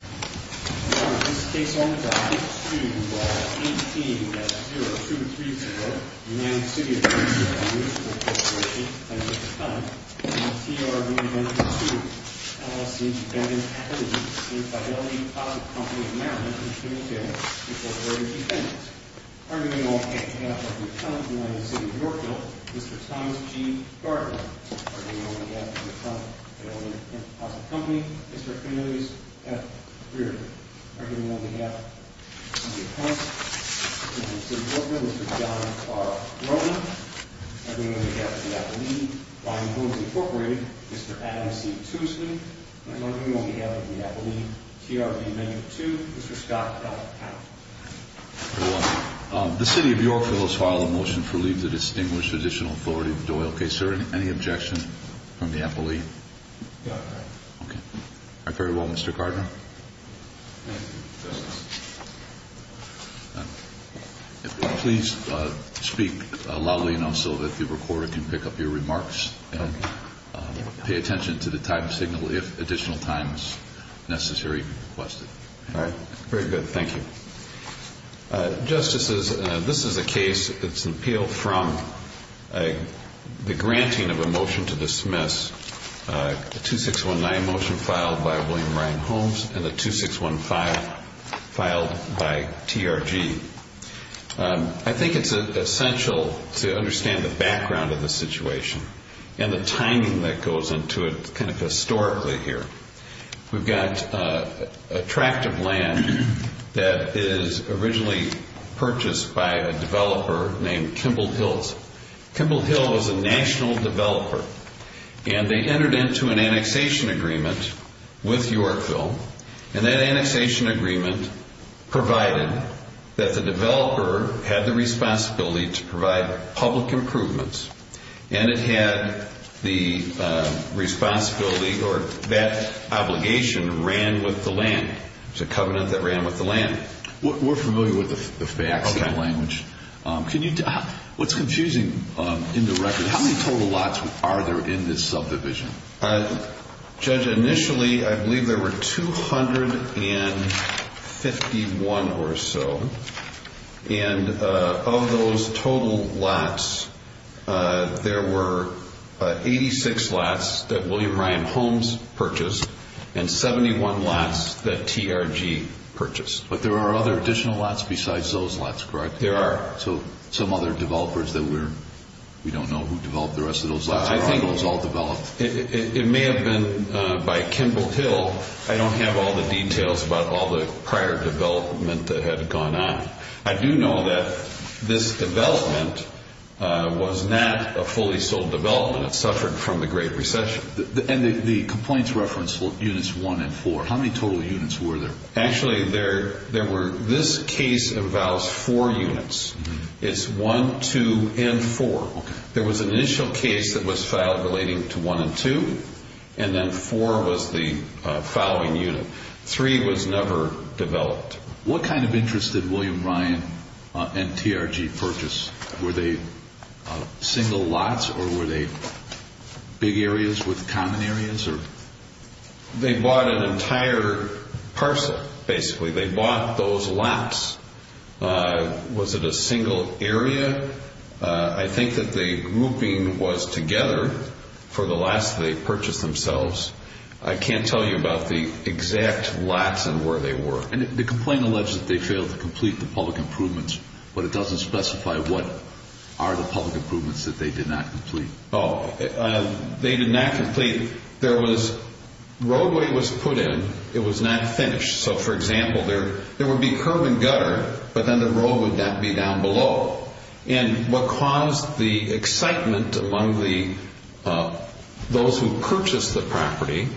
This is case number 5-2-18-0234, United City of Yorkville v. TRG Venture Two, LLC Ben and Patty in Fidelity Imposit Company in Maryland, Pennsylvania. Reporter in defense. Arguing on behalf of the company in United City of Yorkville, Mr. Thomas G. Gardner. Arguing on behalf of the company in United City of Yorkville, Mr. Cornelius F. Reardon. Arguing on behalf of the defense, Mr. John R. Roney. Arguing on behalf of the company in United City of Yorkville, Mr. Adam C. Tuesley. Arguing on behalf of the company in United City of Yorkville, Mr. Scott L. Powell. The City of Yorkville has filed a motion for leave to distinguish additional authority of the Doyle case. Is there any objection from the appellee? No. Okay. Very well, Mr. Gardner. Thank you. Please speak loudly enough so that the recorder can pick up your remarks. And pay attention to the time signal if additional time is necessary. All right. Very good. Thank you. Justices, this is a case that's appealed from the granting of a motion to dismiss. The 2619 motion filed by William Ryan Holmes and the 2615 filed by TRG. I think it's essential to understand the background of the situation and the timing that goes into it kind of historically here. We've got a tract of land that is originally purchased by a developer named Kimball Hills. Kimball Hills is a national developer. And they entered into an annexation agreement with Yorkville. And that annexation agreement provided that the developer had the responsibility to provide public improvements. And it had the responsibility or that obligation ran with the land. It's a covenant that ran with the land. We're familiar with the facts and the language. What's confusing in the record, how many total lots are there in this subdivision? Judge, initially I believe there were 251 or so. And of those total lots, there were 86 lots that William Ryan Holmes purchased and 71 lots that TRG purchased. But there are other additional lots besides those lots, correct? There are. So some other developers that we don't know who developed the rest of those lots. I think it was all developed. It may have been by Kimball Hill. I don't have all the details about all the prior development that had gone on. I do know that this development was not a fully sold development. It suffered from the Great Recession. And the complaints reference units one and four. How many total units were there? Actually, there were this case of vows four units. It's one, two, and four. There was an initial case that was filed relating to one and two. And then four was the following unit. Three was never developed. What kind of interest did William Ryan and TRG purchase? Were they single lots or were they big areas with common areas? They bought an entire parcel, basically. They bought those lots. Was it a single area? I think that the grouping was together for the last they purchased themselves. I can't tell you about the exact lots and where they were. And the complaint alleged that they failed to complete the public improvements, but it doesn't specify what are the public improvements that they did not complete. Oh, they did not complete. There was roadway was put in. It was not finished. So, for example, there would be curb and gutter, but then the road would not be down below. And what caused the excitement among those who purchased the property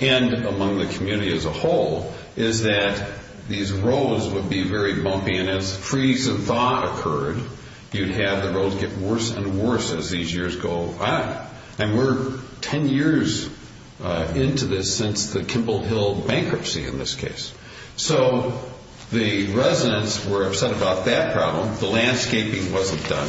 and among the community as a whole is that these roads would be very bumpy. And as freeze of thought occurred, you'd have the roads get worse and worse as these years go by. And we're 10 years into this since the Kimball Hill bankruptcy in this case. So the residents were upset about that problem. The landscaping wasn't done.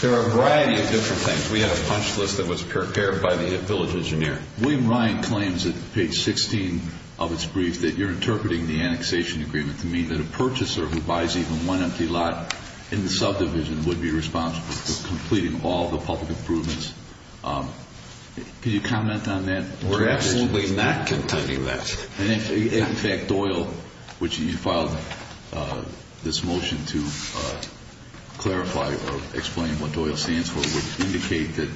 There are a variety of different things. We have a punch list that was prepared by the village engineer. William Ryan claims at page 16 of his brief that you're interpreting the annexation agreement to mean that a purchaser who buys even one empty lot in the subdivision would be responsible for completing all the public improvements. Can you comment on that? We're absolutely not containing that. And, in fact, Doyle, which you filed this motion to clarify or explain what Doyle stands for, would indicate that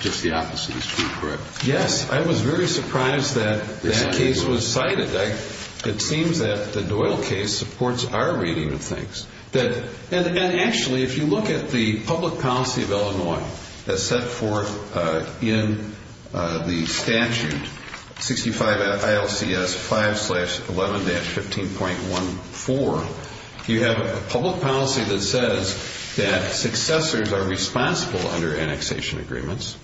just the opposite is true, correct? Yes. I was very surprised that that case was cited. It seems that the Doyle case supports our reading of things. And, actually, if you look at the public policy of Illinois that's set forth in the statute, 65 ILCS 5-11-15.14, you have a public policy that says that successors are responsible under annexation agreements,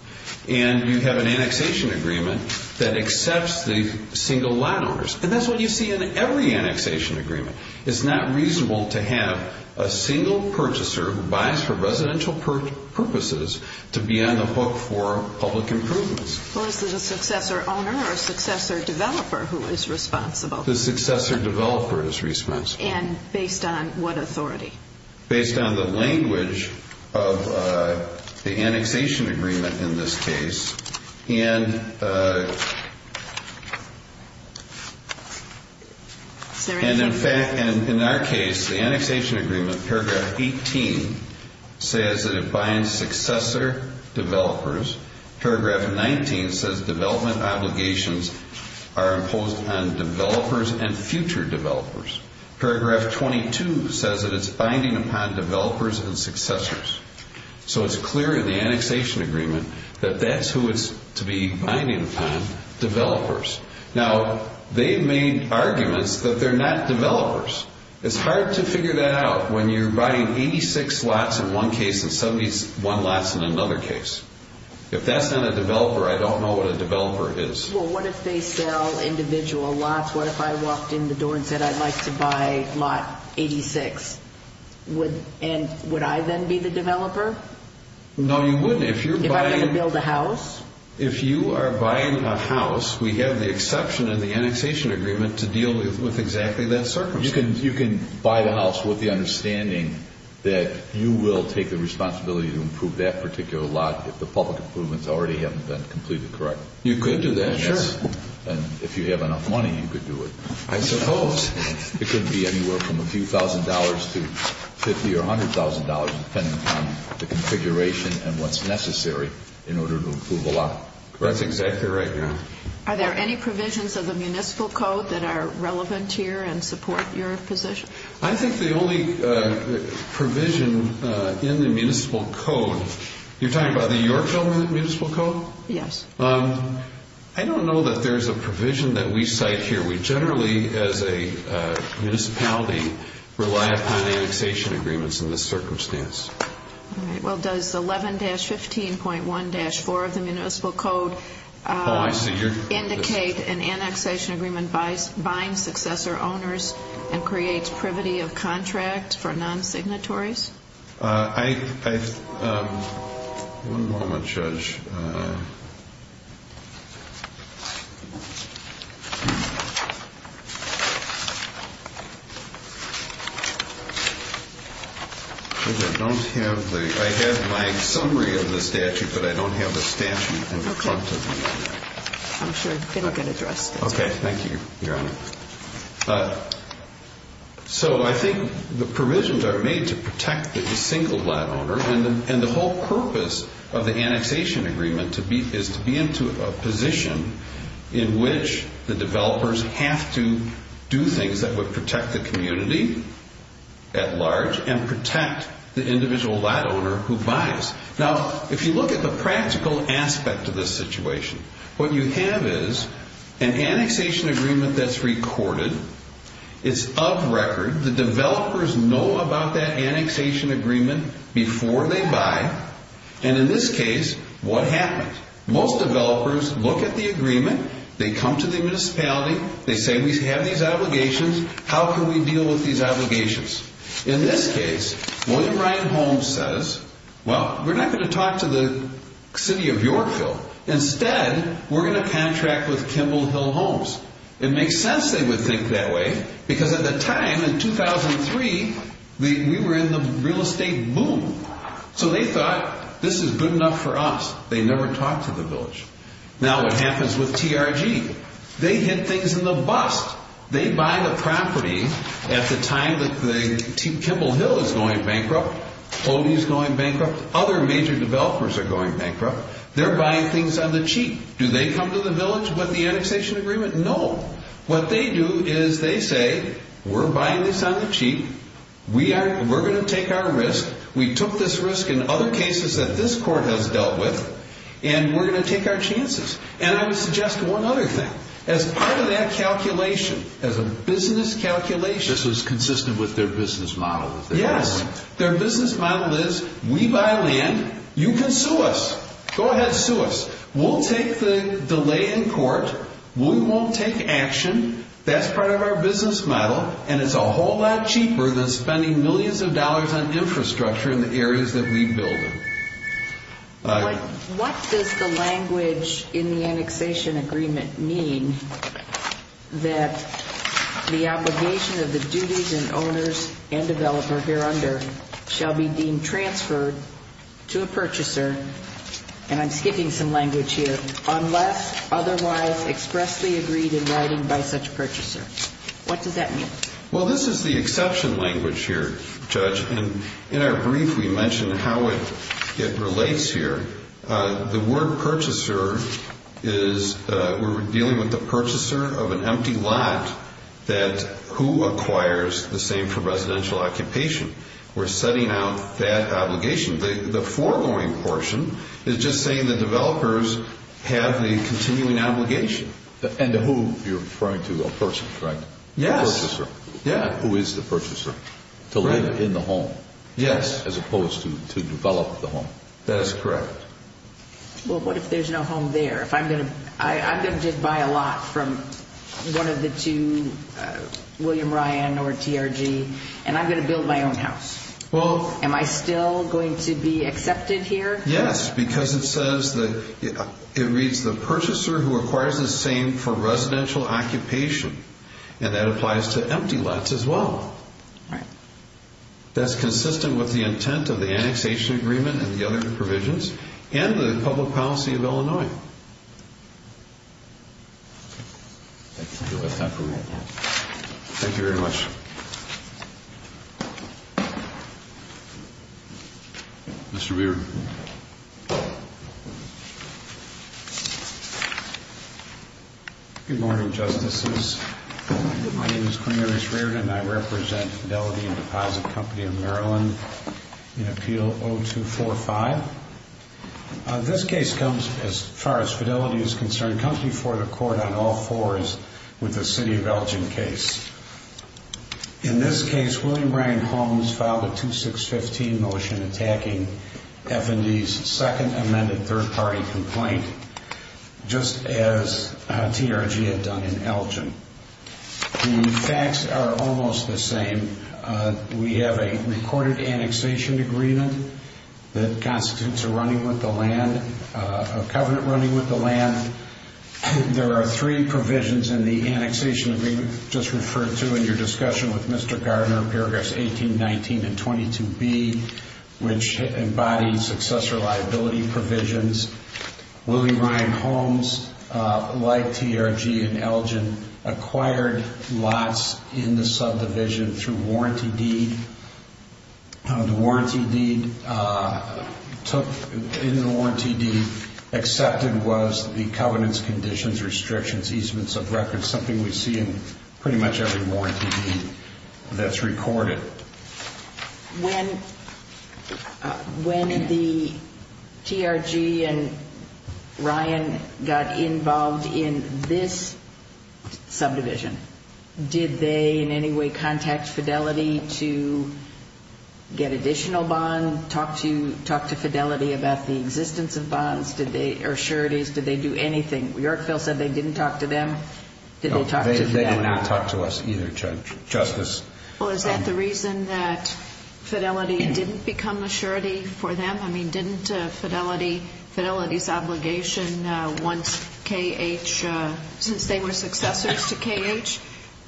and you have an annexation agreement that accepts the single lot owners. And that's what you see in every annexation agreement. It's not reasonable to have a single purchaser who buys for residential purposes to be on the hook for public improvements. Well, is it a successor owner or a successor developer who is responsible? The successor developer is responsible. And based on what authority? Based on the language of the annexation agreement in this case. And, in fact, in our case, the annexation agreement, paragraph 18, says that it binds successor developers. Paragraph 19 says development obligations are imposed on developers and future developers. Paragraph 22 says that it's binding upon developers and successors. So it's clear in the annexation agreement that that's who it's to be binding upon, developers. Now, they've made arguments that they're not developers. It's hard to figure that out when you're buying 86 lots in one case and 71 lots in another case. If that's not a developer, I don't know what a developer is. Well, what if they sell individual lots? What if I walked in the door and said I'd like to buy lot 86? And would I then be the developer? No, you wouldn't. If I'm going to build a house? If you are buying a house, we have the exception in the annexation agreement to deal with exactly that circumstance. You can buy the house with the understanding that you will take the responsibility to improve that particular lot if the public improvements already haven't been completed correctly. You could do that, yes. Sure. And if you have enough money, you could do it. I suppose. It could be anywhere from a few thousand dollars to $50,000 or $100,000, depending on the configuration and what's necessary in order to improve a lot. That's exactly right, yeah. Are there any provisions of the municipal code that are relevant here and support your position? I think the only provision in the municipal code, you're talking about the Yorkville Municipal Code? Yes. I don't know that there's a provision that we cite here. We generally, as a municipality, rely upon annexation agreements in this circumstance. All right. Well, does 11-15.1-4 of the municipal code indicate an annexation agreement binds successor owners and creates privity of contract for non-signatories? One moment, Judge. I have my summary of the statute, but I don't have a statute in front of me. I'm sure it will get addressed. Okay. Thank you, Your Honor. So I think the provisions are made to protect the single lot owner, and the whole purpose of the annexation agreement is to be into a position in which the developers have to do things that would protect the community at large and protect the individual lot owner who buys. Now, if you look at the practical aspect of this situation, what you have is an annexation agreement that's recorded. It's of record. The developers know about that annexation agreement before they buy, and in this case, what happens? Most developers look at the agreement. They come to the municipality. They say, We have these obligations. How can we deal with these obligations? In this case, William Ryan Holmes says, Well, we're not going to talk to the city of Yorkville. Instead, we're going to contract with Kimball Hill Homes. It makes sense they would think that way because at the time, in 2003, we were in the real estate boom. So they thought, This is good enough for us. They never talked to the village. Now, what happens with TRG? They hit things in the bust. They buy the property at the time that Kimball Hill is going bankrupt. Odie is going bankrupt. Other major developers are going bankrupt. They're buying things on the cheap. Do they come to the village with the annexation agreement? No. What they do is they say, We're buying this on the cheap. We're going to take our risk. We took this risk in other cases that this court has dealt with, and we're going to take our chances. And I would suggest one other thing. As part of that calculation, as a business calculation. This is consistent with their business model. Yes. Their business model is, We buy land. You can sue us. Go ahead, sue us. We'll take the delay in court. We won't take action. That's part of our business model, and it's a whole lot cheaper than spending millions of dollars on infrastructure in the areas that we build in. What does the language in the annexation agreement mean that the obligation of the duties and owners and developer here under shall be deemed transferred to a purchaser, and I'm skipping some language here, unless otherwise expressly agreed in writing by such a purchaser? What does that mean? Well, this is the exception language here, Judge, and in our brief we mentioned how it relates here. The word purchaser is we're dealing with the purchaser of an empty lot that who acquires the same for residential occupation. We're setting out that obligation. The foregoing portion is just saying the developers have the continuing obligation. And who you're referring to, a person, correct? Yes. Who is the purchaser? To live in the home. Yes. As opposed to develop the home. That is correct. Well, what if there's no home there? I'm going to just buy a lot from one of the two, William Ryan or TRG, and I'm going to build my own house. Am I still going to be accepted here? Yes, because it says that it reads the purchaser who acquires the same for residential occupation, and that applies to empty lots as well. Right. That's consistent with the intent of the annexation agreement and the other provisions and the public policy of Illinois. Thank you very much. Mr. Reardon. Good morning, Justices. My name is Cornelius Reardon, and I represent Fidelity and Deposit Company of Maryland in Appeal 0245. This case comes, as far as fidelity is concerned, comes before the court on all fours with the city of Elgin case. In this case, William Ryan Holmes filed a 2615 motion attacking F&D's second amended third-party complaint, just as TRG had done in Elgin. The facts are almost the same. We have a recorded annexation agreement that constitutes a running with the land, a covenant running with the land. There are three provisions in the annexation agreement just referred to in your discussion with Mr. Gardner, paragraphs 18, 19, and 22b, which embody successor liability provisions. William Ryan Holmes, like TRG in Elgin, acquired lots in the subdivision through warranty deed. The warranty deed accepted was the covenants, conditions, restrictions, easements of records, something we see in pretty much every warranty deed that's recorded. When the TRG and Ryan got involved in this subdivision, did they in any way contact Fidelity to get additional bond, talk to Fidelity about the existence of bonds? Did they, or sure it is, did they do anything? Yorkville said they didn't talk to them. Did they talk to them? They did not talk to us either, Justice. Well, is that the reason that Fidelity didn't become a surety for them? I mean, didn't Fidelity's obligation once KH, since they were successors to KH,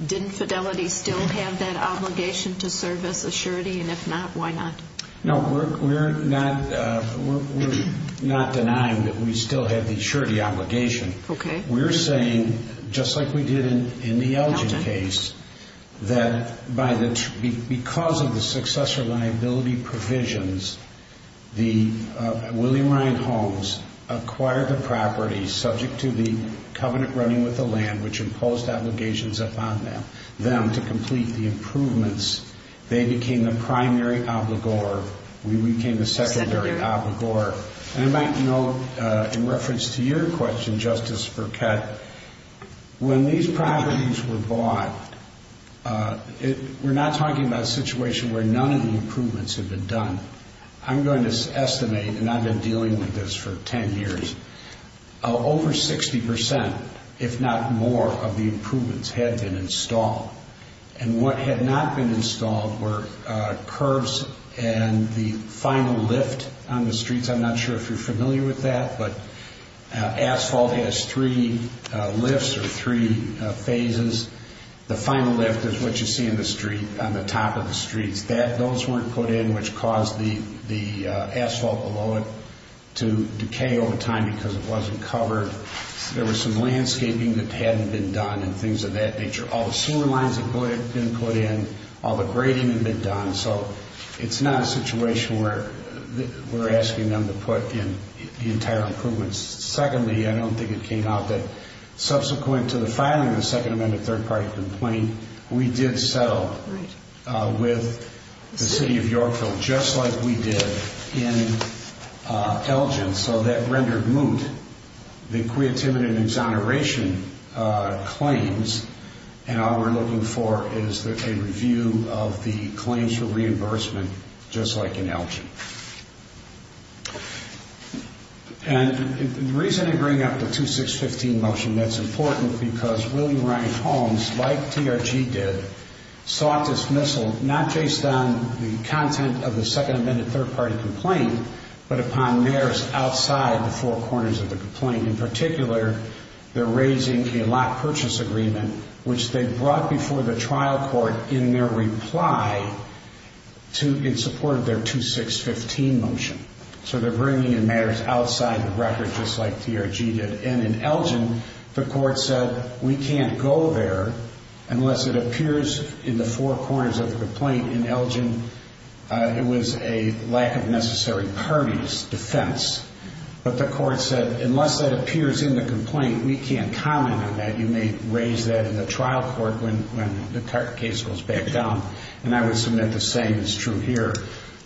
didn't Fidelity still have that obligation to serve as a surety? And if not, why not? No, we're not denying that we still have the surety obligation. Okay. We're saying, just like we did in the Elgin case, that because of the successor liability provisions, William Ryan Homes acquired the property, subject to the covenant running with the land, which imposed obligations upon them to complete the improvements. They became the primary obligor. We became the secondary obligor. And I might note, in reference to your question, Justice Burkett, when these properties were bought, we're not talking about a situation where none of the improvements had been done. I'm going to estimate, and I've been dealing with this for 10 years, over 60%, if not more, of the improvements had been installed. And what had not been installed were curbs and the final lift on the streets. I'm not sure if you're familiar with that, but asphalt has three lifts or three phases. The final lift is what you see on the top of the streets. Those weren't put in, which caused the asphalt below it to decay over time because it wasn't covered. There was some landscaping that hadn't been done and things of that nature. All the sewer lines had been put in. All the grading had been done. So it's not a situation where we're asking them to put in the entire improvements. Secondly, I don't think it came out, but subsequent to the filing of the Second Amendment third-party complaint, we did settle with the city of Yorkville, just like we did in Elgin. So that rendered moot the creativity and exoneration claims. And all we're looking for is a review of the claims for reimbursement, just like in Elgin. And the reason I bring up the 2615 motion, that's important because William Ryan Holmes, like TRG did, sought dismissal not based on the content of the Second Amendment third-party complaint, but upon matters outside the four corners of the complaint. In particular, they're raising a lot purchase agreement, which they brought before the trial court in their reply in support of their 2615 motion. So they're bringing in matters outside the record, just like TRG did. And in Elgin, the court said, we can't go there unless it appears in the four corners of the complaint. In Elgin, it was a lack of necessary parties defense. But the court said, unless it appears in the complaint, we can't comment on that. You may raise that in the trial court when the case goes back down. And I would submit the same is true here.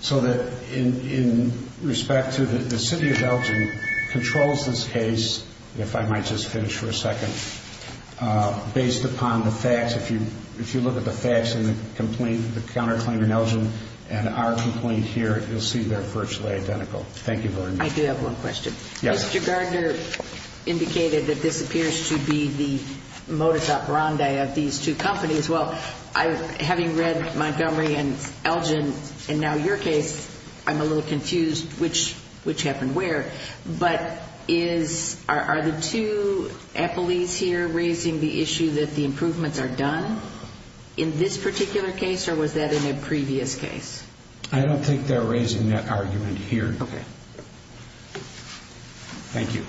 So that in respect to the city of Elgin controls this case, if I might just finish for a second, based upon the facts, if you look at the facts in the complaint, the counterclaim in Elgin and our complaint here, you'll see they're virtually identical. Thank you very much. I do have one question. Yes. Mr. Gardner indicated that this appears to be the modus operandi of these two companies. Well, having read Montgomery and Elgin and now your case, I'm a little confused which happened where. But are the two appellees here raising the issue that the improvements are done in this particular case, or was that in a previous case? I don't think they're raising that argument here. Okay. Thank you.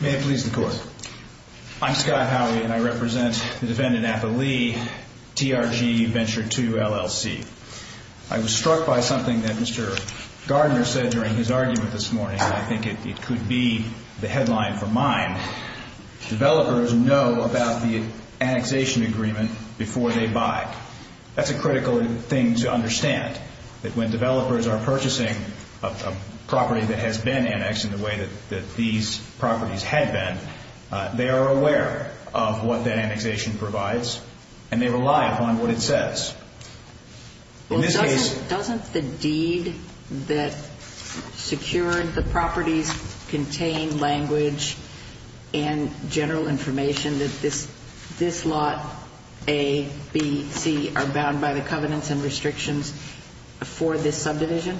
May it please the Court. I'm Scott Howey, and I represent the defendant appellee, TRG Venture II, LLC. I was struck by something that Mr. Gardner said during his argument this morning, and I think it could be the headline for mine. Developers know about the annexation agreement before they buy. That's a critical thing to understand, that when developers are purchasing, a property that has been annexed in the way that these properties had been, they are aware of what that annexation provides, and they rely upon what it says. In this case. Well, doesn't the deed that secured the properties contain language and general information that this lot A, B, C, are bound by the covenants and restrictions for this subdivision?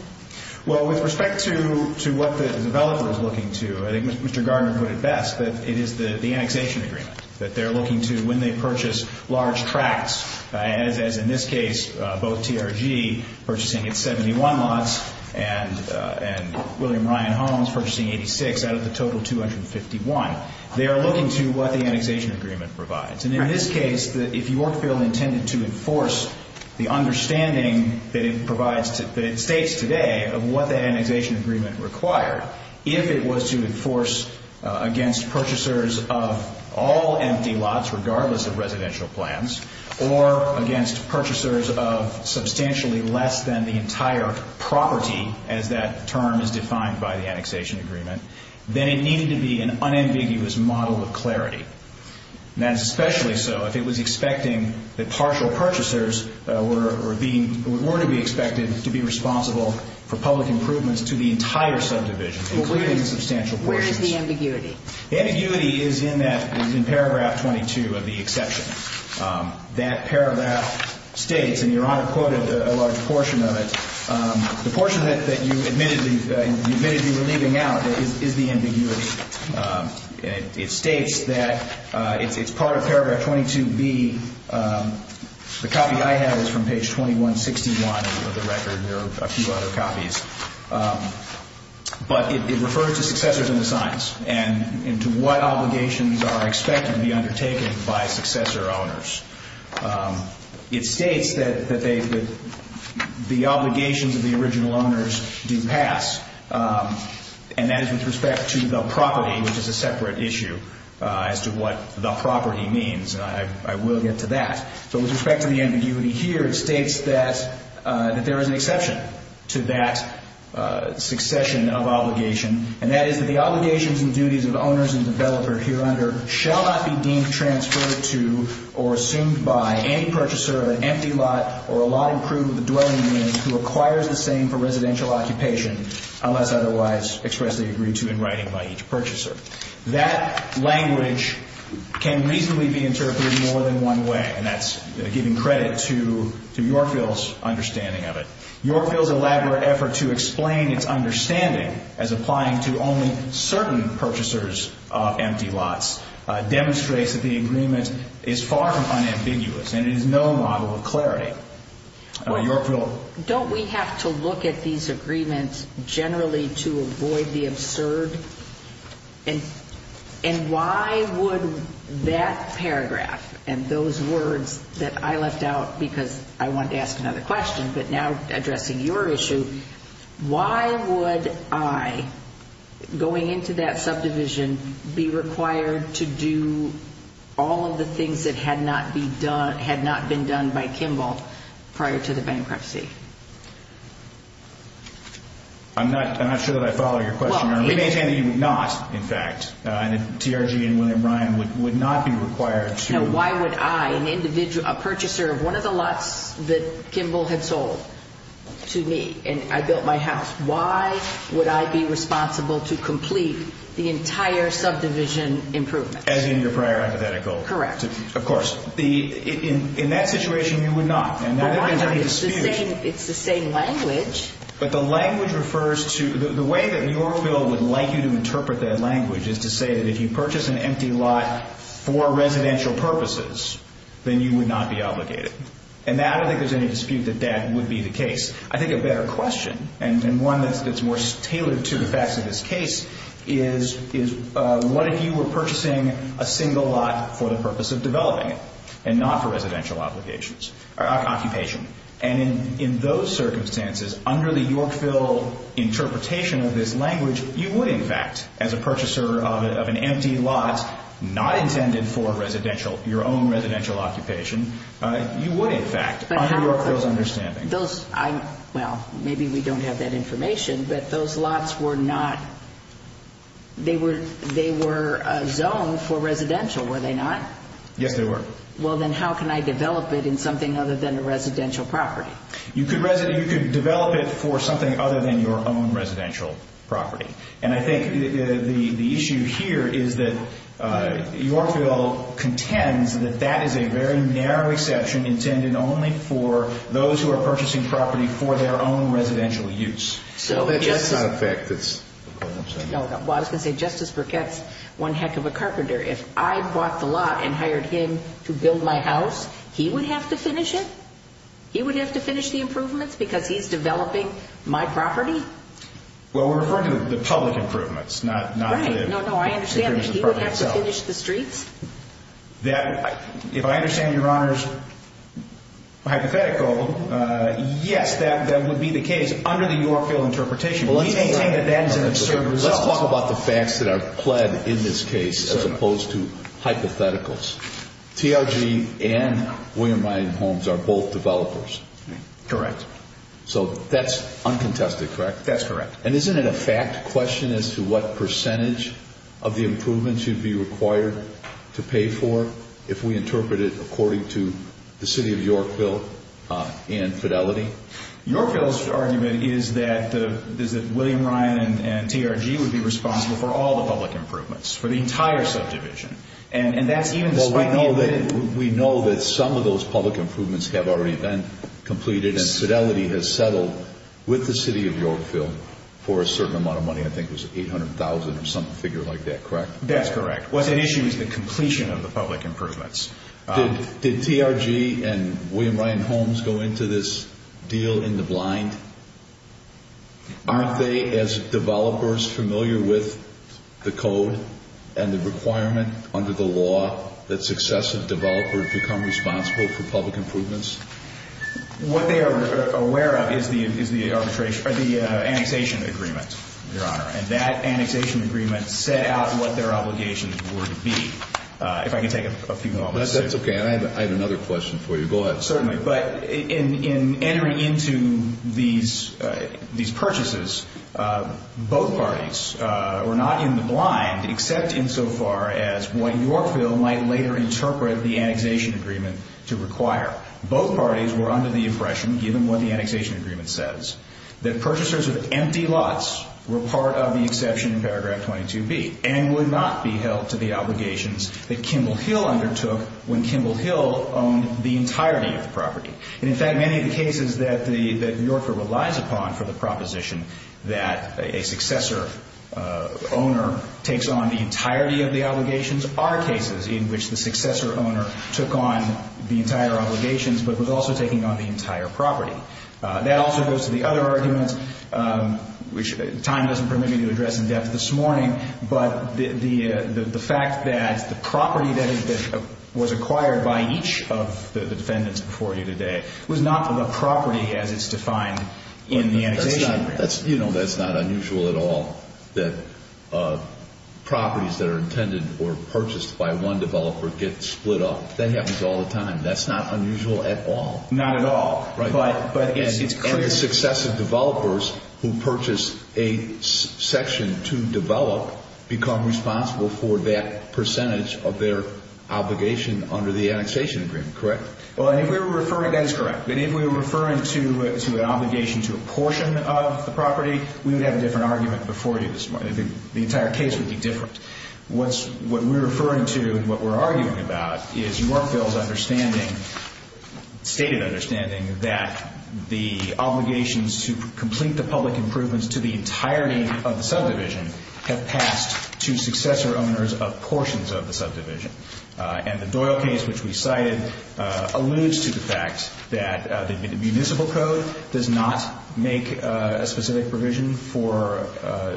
Well, with respect to what the developer is looking to, I think Mr. Gardner put it best, that it is the annexation agreement that they're looking to when they purchase large tracts, as in this case, both TRG purchasing its 71 lots and William Ryan Homes purchasing 86 out of the total 251. They are looking to what the annexation agreement provides. And in this case, if Yorkville intended to enforce the understanding that it states today of what the annexation agreement required, if it was to enforce against purchasers of all empty lots, regardless of residential plans, or against purchasers of substantially less than the entire property, as that term is defined by the annexation agreement, then it needed to be an unambiguous model of clarity. And that is especially so if it was expecting that partial purchasers were to be expected to be responsible for public improvements to the entire subdivision, including substantial portions. Where is the ambiguity? The ambiguity is in paragraph 22 of the exception. That paragraph states, and Your Honor quoted a large portion of it, the portion that you admitted you were leaving out is the ambiguity. It states that it's part of paragraph 22B. The copy I have is from page 2161 of the record. There are a few other copies. But it refers to successors in the signs and to what obligations are expected to be undertaken by successor owners. It states that the obligations of the original owners do pass. And that is with respect to the property, which is a separate issue as to what the property means. I will get to that. So with respect to the ambiguity here, it states that there is an exception to that succession of obligation. And that is that the obligations and duties of the owners and developer here under shall not be deemed transferred to or assumed by any purchaser of an empty lot or a lot improved with a dwelling unit who acquires the same for residential occupation unless otherwise expressly agreed to in writing by each purchaser. That language can reasonably be interpreted more than one way, and that's giving credit to Yorkville's understanding of it. Yorkville's elaborate effort to explain its understanding as applying to only certain purchasers of empty lots demonstrates that the agreement is far from unambiguous, and it is no model of clarity. Yorkville? Don't we have to look at these agreements generally to avoid the absurd? And why would that paragraph and those words that I left out because I wanted to ask another question but now addressing your issue, why would I, going into that subdivision, be required to do all of the things that had not been done by Kimball prior to the bankruptcy? I'm not sure that I follow your question. We maintain that you would not, in fact, and that TRG and William Bryan would not be required to. Now why would I, a purchaser of one of the lots that Kimball had sold to me, and I built my house, why would I be responsible to complete the entire subdivision improvement? As in your prior hypothetical? Correct. Of course. In that situation, you would not. Why not? It's the same language. But the language refers to, the way that Yorkville would like you to interpret that language is to say that if you purchase an empty lot for residential purposes, then you would not be obligated. And I don't think there's any dispute that that would be the case. I think a better question, and one that's more tailored to the facts of this case, is what if you were purchasing a single lot for the purpose of developing it and not for residential occupations? And in those circumstances, under the Yorkville interpretation of this language, you would, in fact, as a purchaser of an empty lot, not intended for your own residential occupation, you would, in fact, under Yorkville's understanding. Those, well, maybe we don't have that information, but those lots were not, they were zoned for residential, were they not? Yes, they were. Well, then how can I develop it in something other than a residential property? You could develop it for something other than your own residential property. And I think the issue here is that Yorkville contends that that is a very narrow exception intended only for those who are purchasing property for their own residential use. So that's not a fact. No, I was going to say, Justice Burkett's one heck of a carpenter. If I bought the lot and hired him to build my house, he would have to finish it? He would have to finish the improvements because he's developing my property? Well, we're referring to the public improvements. Right. No, no, I understand. He would have to finish the streets? If I understand Your Honor's hypothetical, yes, that would be the case. Under the Yorkville interpretation, we maintain that that is an absurd result. Let's talk about the facts that are pled in this case as opposed to hypotheticals. TRG and William Ryan Homes are both developers. Correct. So that's uncontested, correct? That's correct. And isn't it a fact question as to what percentage of the improvements you'd be required to pay for if we interpret it according to the City of Yorkville and Fidelity? Yorkville's argument is that William Ryan and TRG would be responsible for all the public improvements, for the entire subdivision. We know that some of those public improvements have already been completed and Fidelity has settled with the City of Yorkville for a certain amount of money. I think it was $800,000 or some figure like that, correct? That's correct. What's at issue is the completion of the public improvements. Did TRG and William Ryan Homes go into this deal in the blind? Aren't they, as developers, familiar with the code and the requirement under the law that successive developers become responsible for public improvements? What they are aware of is the annexation agreement, Your Honor, and that annexation agreement set out what their obligations would be. If I can take a few moments. That's okay. I have another question for you. Go ahead. Certainly. But in entering into these purchases, both parties were not in the blind except insofar as what Yorkville might later interpret the annexation agreement to require. Both parties were under the impression, given what the annexation agreement says, that purchasers of empty lots were part of the exception in Paragraph 22B and would not be held to the obligations that Kimball Hill undertook when Kimball Hill owned the entirety of the property. In fact, many of the cases that Yorkville relies upon for the proposition are cases in which the successor owner took on the entire obligations but was also taking on the entire property. That also goes to the other arguments, which time doesn't permit me to address in depth this morning, but the fact that the property that was acquired by each of the defendants before you today was not the property as it's defined in the annexation agreement. That's not unusual at all that properties that are intended or purchased by one developer get split up. That happens all the time. That's not unusual at all. Not at all. And the successive developers who purchase a section to develop become responsible for that percentage of their obligation under the annexation agreement, correct? Well, if we were referring, that's correct. But if we were referring to an obligation to a portion of the property, we would have a different argument before you this morning. The entire case would be different. What we're referring to and what we're arguing about is Yorkville's understanding, stated understanding that the obligations to complete the public improvements to the entirety of the subdivision have passed to successor owners of portions of the subdivision. And the Doyle case, which we cited, alludes to the fact that the municipal code does not make a specific provision for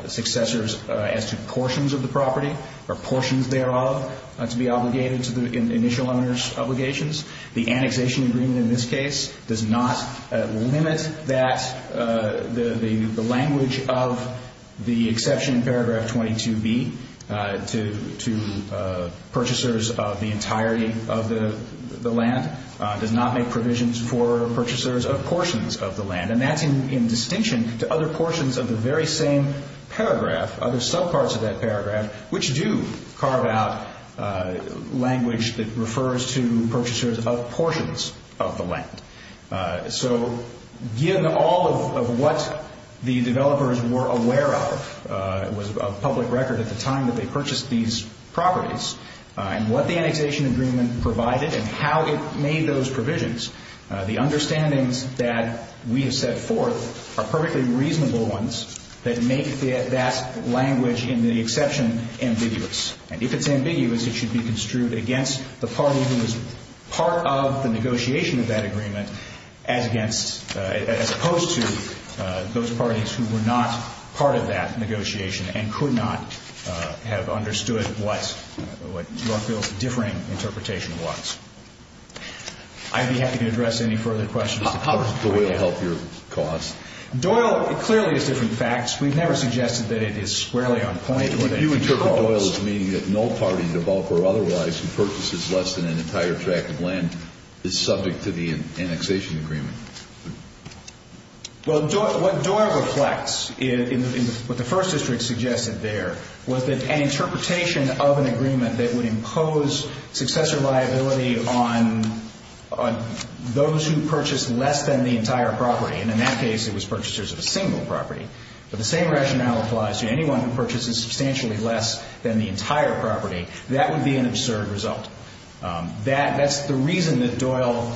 successors as to portions of the property or portions thereof to be obligated to the initial owner's obligations. The annexation agreement in this case does not limit that, the language of the exception in paragraph 22B to purchasers of the entirety of the land does not make provisions for purchasers of portions of the land. And that's in distinction to other portions of the very same paragraph, other subparts of that paragraph, which do carve out language that refers to purchasers of portions of the land. So given all of what the developers were aware of, it was a public record at the time that they purchased these properties, and what the annexation agreement provided and how it made those provisions, the understandings that we have set forth are perfectly reasonable ones that make that language in the exception ambiguous. And if it's ambiguous, it should be construed against the party who was part of the negotiation of that agreement, as opposed to those parties who were not part of that negotiation and could not have understood what Northville's differing interpretation was. I'd be happy to address any further questions. How does Doyle help your cause? Doyle clearly is different facts. We've never suggested that it is squarely on point. You interpret Doyle as meaning that no party in the bulk or otherwise who purchases less than an entire tract of land is subject to the annexation agreement. Well, what Doyle reflects in what the First District suggested there was that an interpretation of an agreement that would impose successor liability on those who purchased less than the entire property, and in that case it was purchasers of a single property, but the same rationale applies to anyone who purchases substantially less than the entire property. That would be an absurd result. That's the reason that Doyle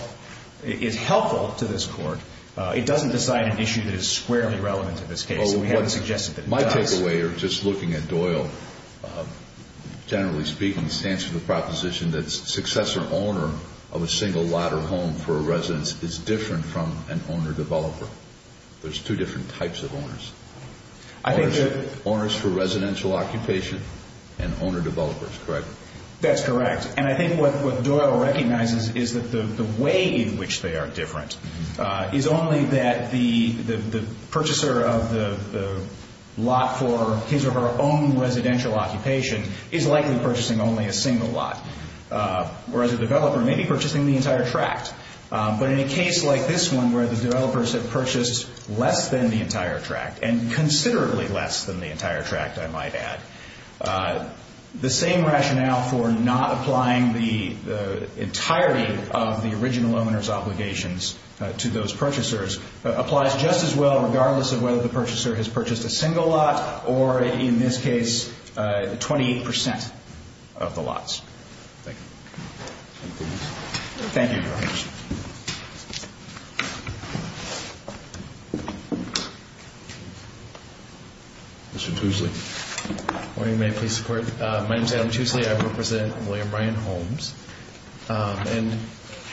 is helpful to this Court. It doesn't decide an issue that is squarely relevant to this case. We haven't suggested that it does. My takeaway, just looking at Doyle, generally speaking stands for the proposition that successor owner of a single lot or home for a residence is different from an owner-developer. There's two different types of owners. Owners for residential occupation and owner-developers, correct? That's correct. And I think what Doyle recognizes is that the way in which they are different is only that the purchaser of the lot for his or her own residential occupation is likely purchasing only a single lot, whereas a developer may be purchasing the entire tract. But in a case like this one where the developers have purchased less than the entire tract and considerably less than the entire tract, I might add, the same rationale for not applying the entirety of the original owner's obligations to those purchasers applies just as well regardless of whether the purchaser has purchased a single lot or, in this case, 28% of the lots. Thank you. Thank you very much. Mr. Tuesley. Good morning. May I please support? My name is Adam Tuesley. I represent William Bryant Homes. And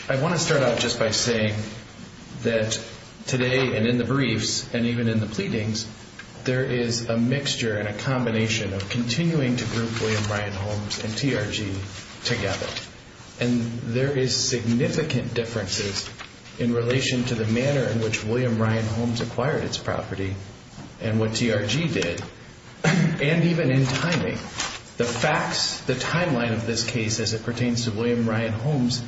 I want to start out just by saying that today and in the briefs and even in the pleadings, there is a mixture and a combination of continuing to group William Bryant Homes and TRG together. And there is significant differences in relation to the manner in which William Bryant Homes acquired its property and what TRG did, and even in timing. The facts, the timeline of this case as it pertains to William Bryant Homes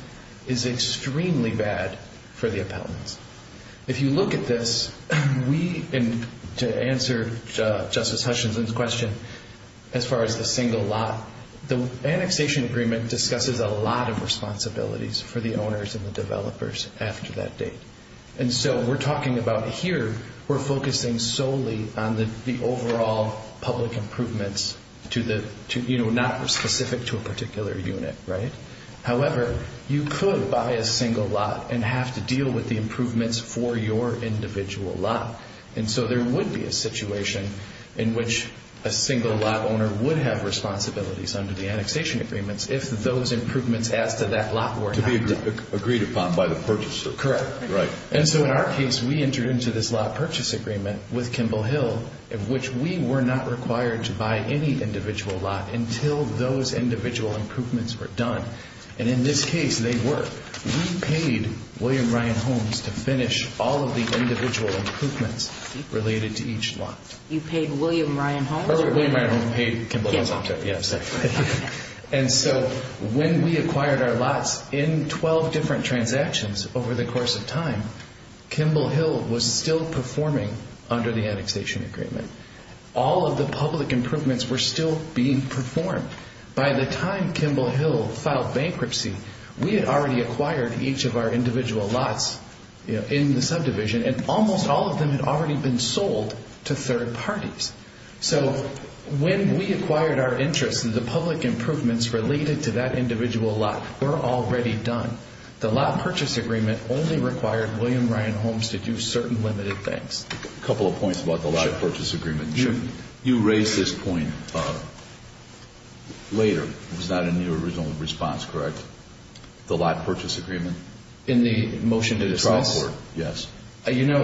is extremely bad for the appellants. If you look at this, to answer Justice Hutchinson's question as far as the single lot, the annexation agreement discusses a lot of responsibilities for the owners and the developers after that date. And so we're talking about here we're focusing solely on the overall public improvements not specific to a particular unit. However, you could buy a single lot and have to deal with the improvements for your individual lot. And so there would be a situation in which a single lot owner would have responsibilities under the annexation agreements if those improvements as to that lot were not done. To be agreed upon by the purchaser. Correct. And so in our case, we entered into this lot purchase agreement with Kimball Hill of which we were not required to buy any individual lot until those individual improvements were done. And in this case, they were. We paid William Bryant Homes to finish all of the individual improvements related to each lot. You paid William Bryant Homes? William Bryant Homes paid Kimball Hill. And so when we acquired our lots in 12 different transactions over the course of time, Kimball Hill was still performing under the annexation agreement. All of the public improvements were still being performed. By the time Kimball Hill filed bankruptcy, we had already acquired each of our individual lots in the subdivision and almost all of them had already been sold to third parties. So when we acquired our interests, the public improvements related to that individual lot were already done. The lot purchase agreement only required William Bryant Homes to do certain limited things. A couple of points about the lot purchase agreement. You raised this point later. It was not in your original response, correct? The lot purchase agreement? In the motion to dismiss? Yes. You know,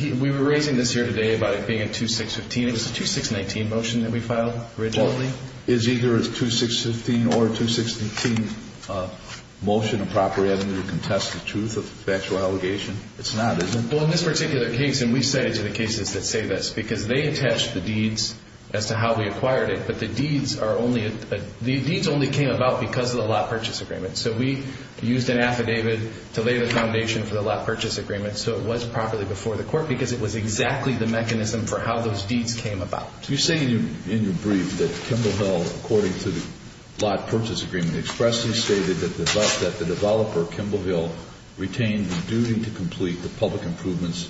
we were raising this here today about it being a 2-6-15. It was a 2-6-19 motion that we filed originally. It is either a 2-6-15 or a 2-6-18 motion of property having to contest the truth of the factual allegation. It's not, is it? Well, in this particular case, and we say to the cases that say this, because they attached the deeds as to how we acquired it, but the deeds only came about because of the lot purchase agreement. So we used an affidavit to lay the foundation for the lot purchase agreement so it was properly before the court because it was exactly the mechanism for how those deeds came about. You say in your brief that Kimble Hill, according to the lot purchase agreement, expressly stated that the developer, Kimble Hill, retained the duty to complete the public improvements,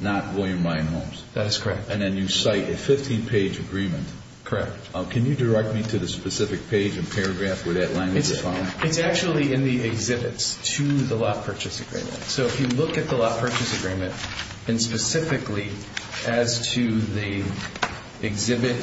not William Ryan Homes. That is correct. And then you cite a 15-page agreement. Correct. Can you direct me to the specific page and paragraph where that language is found? It's actually in the exhibits to the lot purchase agreement. So if you look at the lot purchase agreement, and specifically as to the Exhibit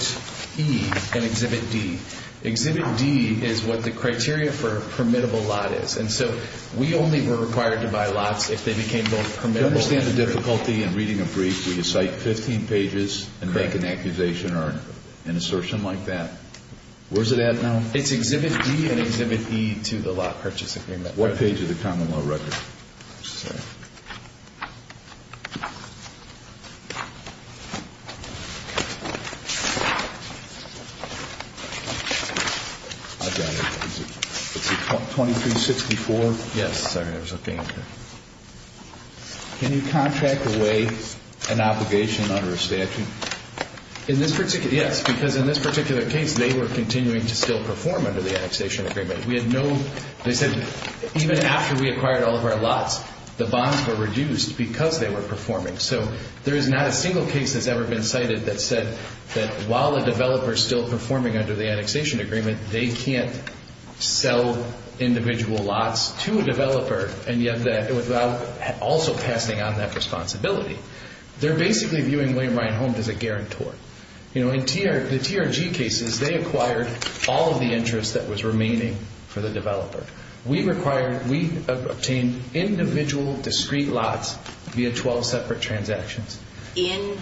E and Exhibit D, Exhibit D is what the criteria for a permittable lot is. And so we only were required to buy lots if they became both permittable and permittable. Do you understand the difficulty in reading a brief where you cite 15 pages and make an accusation or an assertion like that? Where is it at now? It's Exhibit D and Exhibit E to the lot purchase agreement. What page of the common law record? I'm sorry. I've got it. Is it 2364? Yes, sir. It was okay. Can you contract away an obligation under a statute? In this particular case, yes, because in this particular case, they were continuing to still perform under the annexation agreement. They said even after we acquired all of our lots, the bonds were reduced because they were performing. So there is not a single case that's ever been cited that said that while a developer is still performing under the annexation agreement, they can't sell individual lots to a developer without also passing on that responsibility. They're basically viewing William Ryan Home as a guarantor. In the TRG cases, they acquired all of the interest that was remaining for the developer. We obtained individual discrete lots via 12 separate transactions. In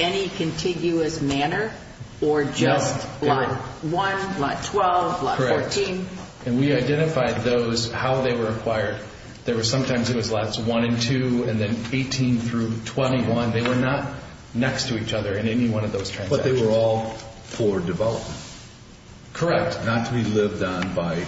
any contiguous manner or just lot 1, lot 12, lot 14? Correct. And we identified those, how they were acquired. Sometimes it was lots 1 and 2 and then 18 through 21. They were not next to each other in any one of those transactions. But they were all for development. Correct. Not to be lived on by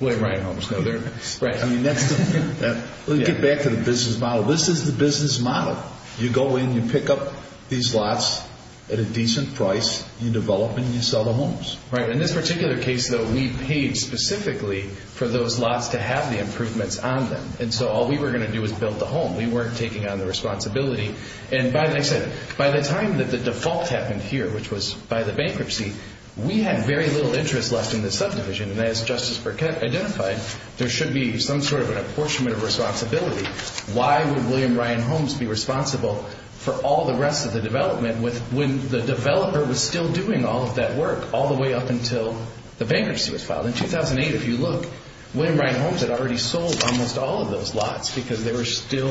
William Ryan Homes. Right. Let's get back to the business model. This is the business model. You go in, you pick up these lots at a decent price, you develop, and you sell the homes. Right. In this particular case, though, we paid specifically for those lots to have the improvements on them. And so all we were going to do was build the home. We weren't taking on the responsibility. And by the time that the default happened here, which was by the bankruptcy, we had very little interest left in the subdivision. And as Justice Burkett identified, there should be some sort of an apportionment of responsibility. Why would William Ryan Homes be responsible for all the rest of the development when the developer was still doing all of that work all the way up until the bankruptcy was filed? In 2008, if you look, William Ryan Homes had already sold almost all of those lots because they were still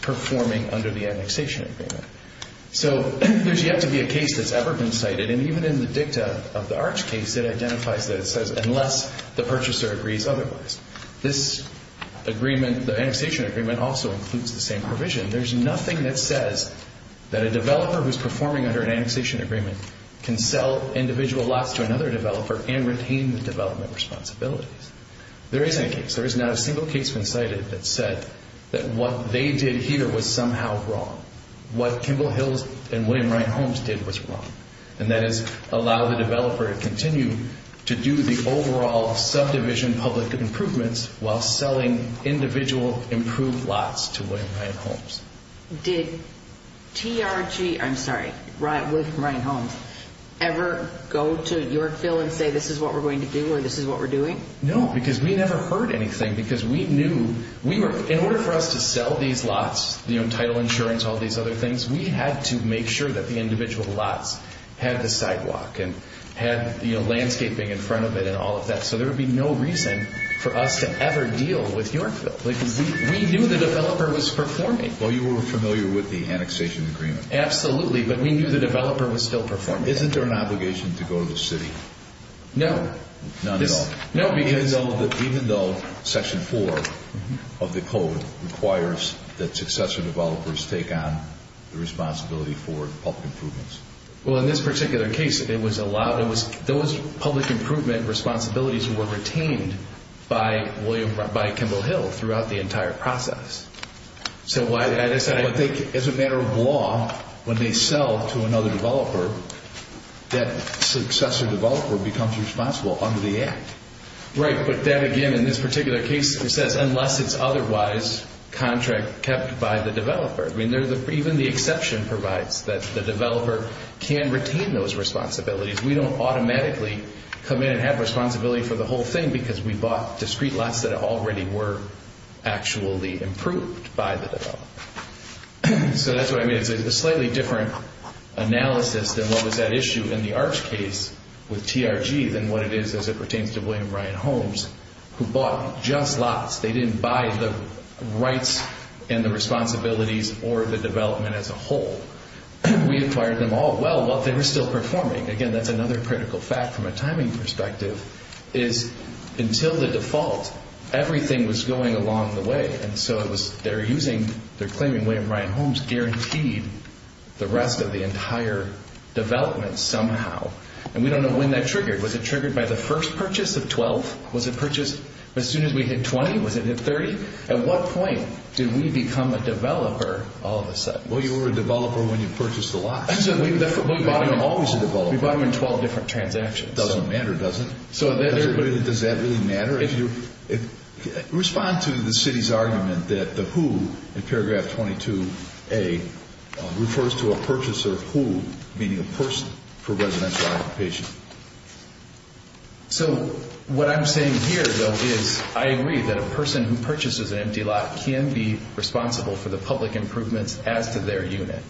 performing under the annexation agreement. So there's yet to be a case that's ever been cited. And even in the dicta of the Arch case, it identifies that it says unless the purchaser agrees otherwise. This agreement, the annexation agreement, also includes the same provision. There's nothing that says that a developer who's performing under an annexation agreement can sell individual lots to another developer and retain the development responsibilities. There is a case. There is not a single case been cited that said that what they did here was somehow wrong. What Kimball Hills and William Ryan Homes did was wrong. And that is allow the developer to continue to do the overall subdivision public improvements while selling individual improved lots to William Ryan Homes. Did TRG, I'm sorry, William Ryan Homes ever go to Yorkville and say this is what we're going to do or this is what we're doing? No, because we never heard anything because we knew. In order for us to sell these lots, title insurance, all these other things, we had to make sure that the individual lots had the sidewalk and had landscaping in front of it and all of that. So there would be no reason for us to ever deal with Yorkville. We knew the developer was performing. Well, you were familiar with the annexation agreement. Absolutely, but we knew the developer was still performing. Isn't there an obligation to go to the city? No. None at all? No. Even though section four of the code requires that successor developers take on the responsibility for public improvements? Well, in this particular case, it was those public improvement responsibilities were retained by Kimball Hill throughout the entire process. So why did I decide? As a matter of law, when they sell to another developer, that successor developer becomes responsible under the act. Right, but that, again, in this particular case, it says unless it's otherwise contract kept by the developer. I mean, even the exception provides that the developer can retain those responsibilities. We don't automatically come in and have responsibility for the whole thing because we bought discrete lots that already were actually improved by the developer. So that's what I mean. It's a slightly different analysis than what was at issue in the Arch case with TRG than what it is as it pertains to William Ryan Holmes, who bought just lots. They didn't buy the rights and the responsibilities or the development as a whole. We acquired them all well while they were still performing. Again, that's another critical fact from a timing perspective, is until the default, everything was going along the way, and so they're claiming William Ryan Holmes guaranteed the rest of the entire development somehow. And we don't know when that triggered. Was it triggered by the first purchase of 12? Was it purchased as soon as we hit 20? Was it hit 30? At what point did we become a developer all of a sudden? Well, you were a developer when you purchased the lots. So we bought them in 12 different transactions. It doesn't matter, does it? Does that really matter? Respond to the city's argument that the who in paragraph 22A refers to a purchaser who, meaning a person for residential occupation. So what I'm saying here, though, is I agree that a person who purchases an empty lot can be responsible for the public improvements as to their unit.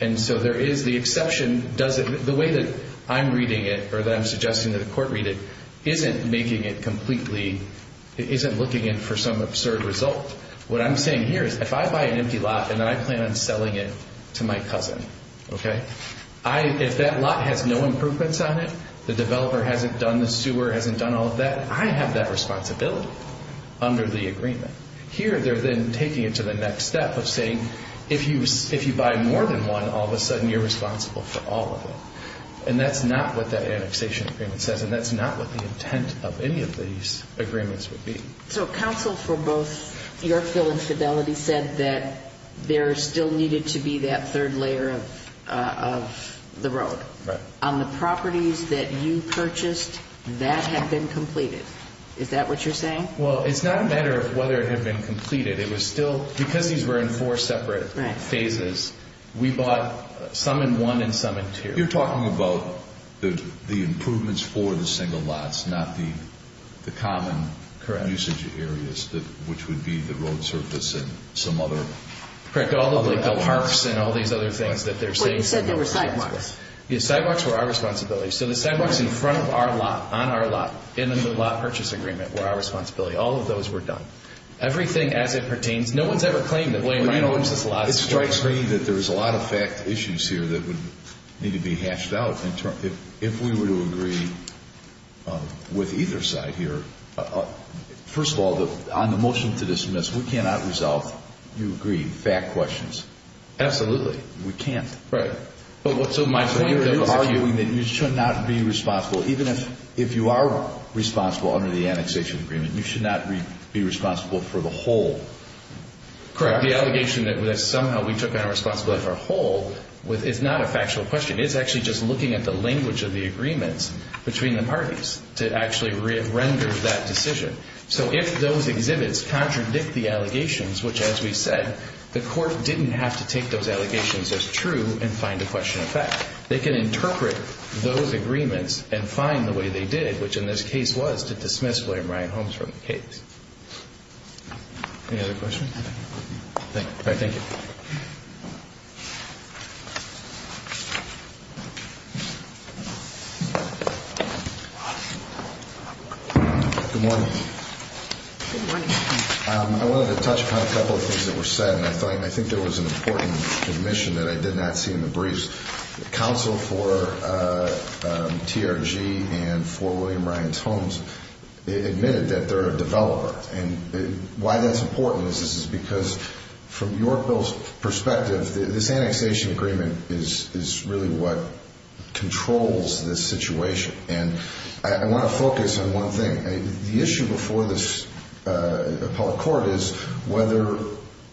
And so there is the exception. The way that I'm reading it or that I'm suggesting that the court read it isn't making it completely, isn't looking in for some absurd result. What I'm saying here is if I buy an empty lot and then I plan on selling it to my cousin, okay, if that lot has no improvements on it, the developer hasn't done, the sewer hasn't done all of that, I have that responsibility under the agreement. Here they're then taking it to the next step of saying if you buy more than one, all of a sudden you're responsible for all of it. And that's not what that annexation agreement says, and that's not what the intent of any of these agreements would be. So counsel for both your fill and fidelity said that there still needed to be that third layer of the road. Right. On the properties that you purchased, that had been completed. Is that what you're saying? Well, it's not a matter of whether it had been completed. It was still, because these were in four separate phases, we bought some in one and some in two. You're talking about the improvements for the single lots, not the common usage areas, which would be the road surface and some other. Correct, all of the parks and all these other things that they're saying. You said there were sidewalks. Yes, sidewalks were our responsibility. So the sidewalks in front of our lot, on our lot, in the lot purchase agreement were our responsibility. All of those were done. Everything as it pertains, no one's ever claimed that William and Mary owns this lot. It strikes me that there's a lot of fact issues here that would need to be hashed out. If we were to agree with either side here, first of all, on the motion to dismiss, we cannot resolve, you agree, fact questions. We can't. Right. So you're arguing that you should not be responsible, even if you are responsible under the annexation agreement, you should not be responsible for the whole. Correct. The allegation that somehow we took on responsibility for a whole is not a factual question. It's actually just looking at the language of the agreements between the parties to actually render that decision. So if those exhibits contradict the allegations, which, as we said, the court didn't have to take those allegations as true and find a question of fact. They can interpret those agreements and find the way they did, which in this case was to dismiss William and Mary Holmes from the case. Any other questions? Thank you. All right. Thank you. Good morning. Good morning. I wanted to touch upon a couple of things that were said, and I think there was an important admission that I did not see in the briefs. The counsel for TRG and for William and Mary Holmes admitted that they're a developer. And why that's important is because from your bill's perspective, this annexation agreement is really what controls this situation. And I want to focus on one thing. The issue before this appellate court is whether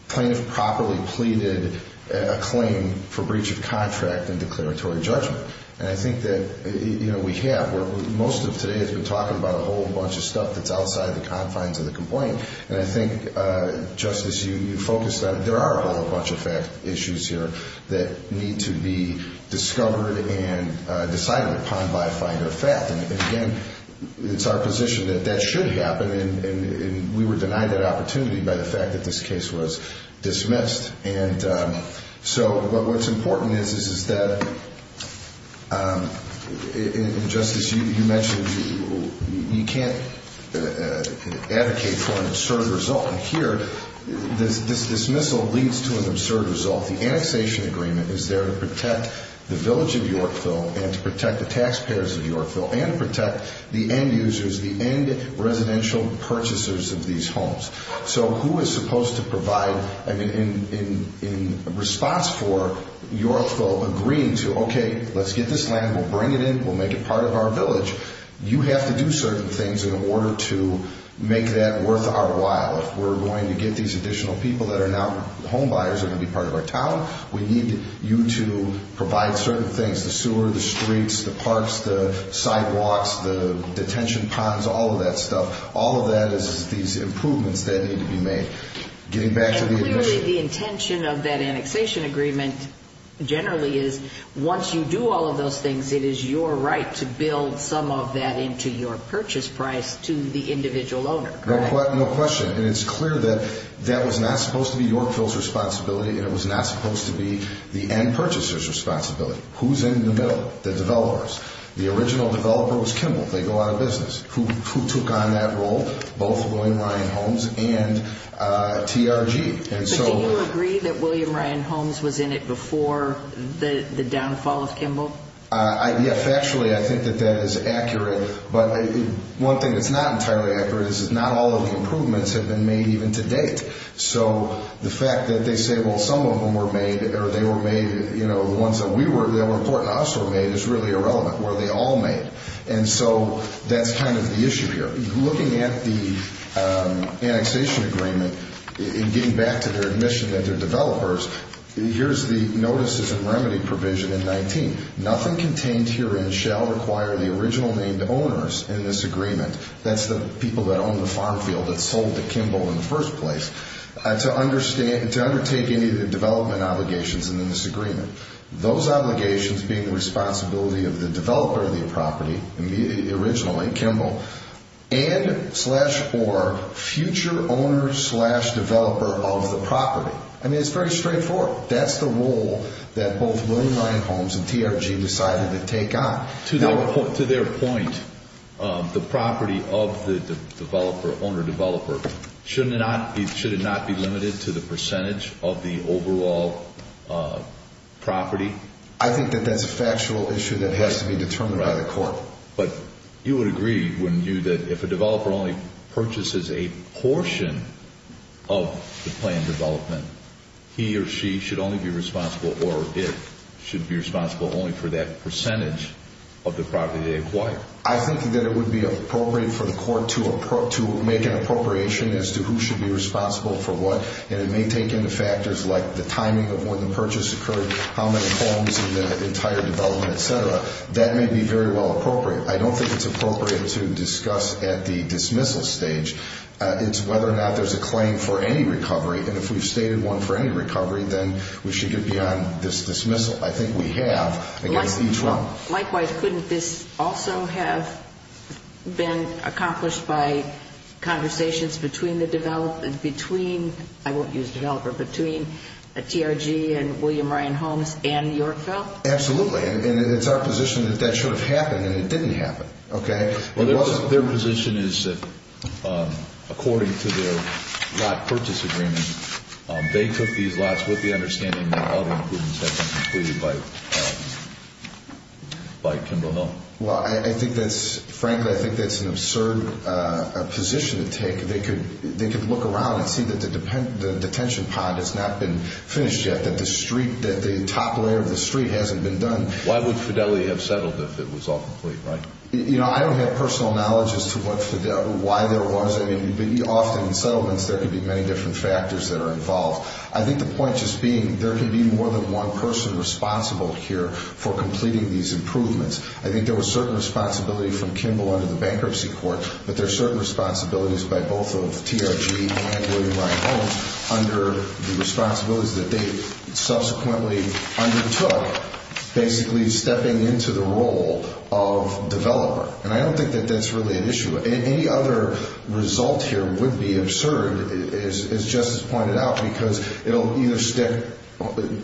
plaintiff properly pleaded a claim for breach of contract in declaratory judgment. And I think that we have. Most of today has been talking about a whole bunch of stuff that's outside the confines of the complaint. And I think, Justice, you focused on it. There are a whole bunch of fact issues here that need to be discovered and decided upon by a finder of fact. And, again, it's our position that that should happen, and we were denied that opportunity by the fact that this case was dismissed. And so what's important is that, Justice, you mentioned you can't advocate for an absurd result. And here this dismissal leads to an absurd result. The annexation agreement is there to protect the village of Yorkville and to protect the taxpayers of Yorkville and to protect the end users, the end residential purchasers of these homes. So who is supposed to provide in response for Yorkville agreeing to, okay, let's get this land. We'll bring it in. We'll make it part of our village. You have to do certain things in order to make that worth our while. If we're going to get these additional people that are now home buyers that are going to be part of our town, we need you to provide certain things, the sewer, the streets, the parks, the sidewalks, the detention ponds, all of that stuff. All of that is these improvements that need to be made. Getting back to the addition. And clearly the intention of that annexation agreement generally is once you do all of those things, it is your right to build some of that into your purchase price to the individual owner, correct? No question. And it's clear that that was not supposed to be Yorkville's responsibility and it was not supposed to be the end purchaser's responsibility. Who's in the middle? The developers. The original developer was Kimball. They go out of business. Who took on that role? Both William Ryan Holmes and TRG. But do you agree that William Ryan Holmes was in it before the downfall of Kimball? Yes, factually I think that that is accurate. But one thing that's not entirely accurate is not all of the improvements have been made even to date. So the fact that they say, well, some of them were made or they were made, you know, the ones that we were, that were important to us were made is really irrelevant. Were they all made? And so that's kind of the issue here. Looking at the annexation agreement and getting back to their admission that they're developers, here's the notices and remedy provision in 19. Nothing contained herein shall require the original named owners in this agreement, that's the people that own the farm field that sold to Kimball in the first place, to undertake any of the development obligations in this agreement. Those obligations being the responsibility of the developer of the property, originally Kimball, and slash or future owner slash developer of the property. I mean, it's very straightforward. That's the role that both William Ryan Homes and TRG decided to take on. To their point, the property of the developer, owner developer, should it not be limited to the percentage of the overall property? I think that that's a factual issue that has to be determined by the court. But you would agree, wouldn't you, that if a developer only purchases a portion of the planned development, he or she should only be responsible or it should be responsible only for that percentage of the property they acquire? I think that it would be appropriate for the court to make an appropriation as to who should be responsible for what, and it may take into factors like the timing of when the purchase occurred, how many homes in the entire development, et cetera. That may be very well appropriate. I don't think it's appropriate to discuss at the dismissal stage. It's whether or not there's a claim for any recovery, and if we've stated one for any recovery, then we should get beyond this dismissal. I think we have against each one. Likewise, couldn't this also have been accomplished by conversations between the developer, between, I won't use developer, between TRG and William Ryan Homes and Yorkville? Absolutely. And it's our position that that should have happened and it didn't happen. Their position is that according to their lot purchase agreement, they took these lots with the understanding that other improvements had been completed by Kimball Hill. Frankly, I think that's an absurd position to take. They could look around and see that the detention pond has not been finished yet, that the top layer of the street hasn't been done. Why would Fidelity have settled if it was all complete? I don't have personal knowledge as to why there was any, but often in settlements there can be many different factors that are involved. I think the point just being there can be more than one person responsible here for completing these improvements. I think there was certain responsibility from Kimball under the bankruptcy court, but there's certain responsibilities by both of TRG and William Ryan Homes under the responsibilities that they subsequently undertook, basically stepping into the role of developer. And I don't think that that's really an issue. Any other result here would be absurd, as Justice pointed out, because it will either stick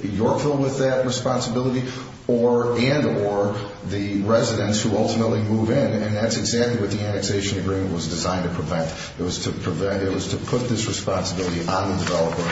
Yorkville with that responsibility and or the residents who ultimately move in, and that's exactly what the annexation agreement was designed to prevent. It was to put this responsibility on the developer.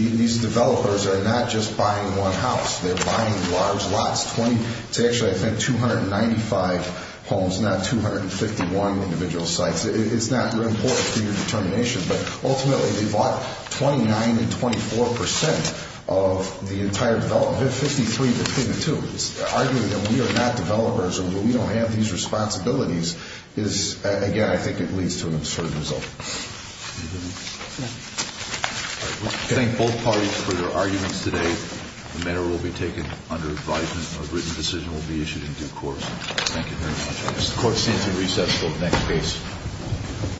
These developers are not just buying one house. They're buying large lots. It's actually, I think, 295 homes, not 251 individual sites. It's not important for your determination, but ultimately they bought 29 and 24 percent of the entire development, 53 between the two. Arguing that we are not developers and we don't have these responsibilities is, again, I think it leads to an absurd result. Thank both parties for their arguments today. The matter will be taken under advisement. A written decision will be issued in due course. Thank you very much. The court stands in recess until the next case.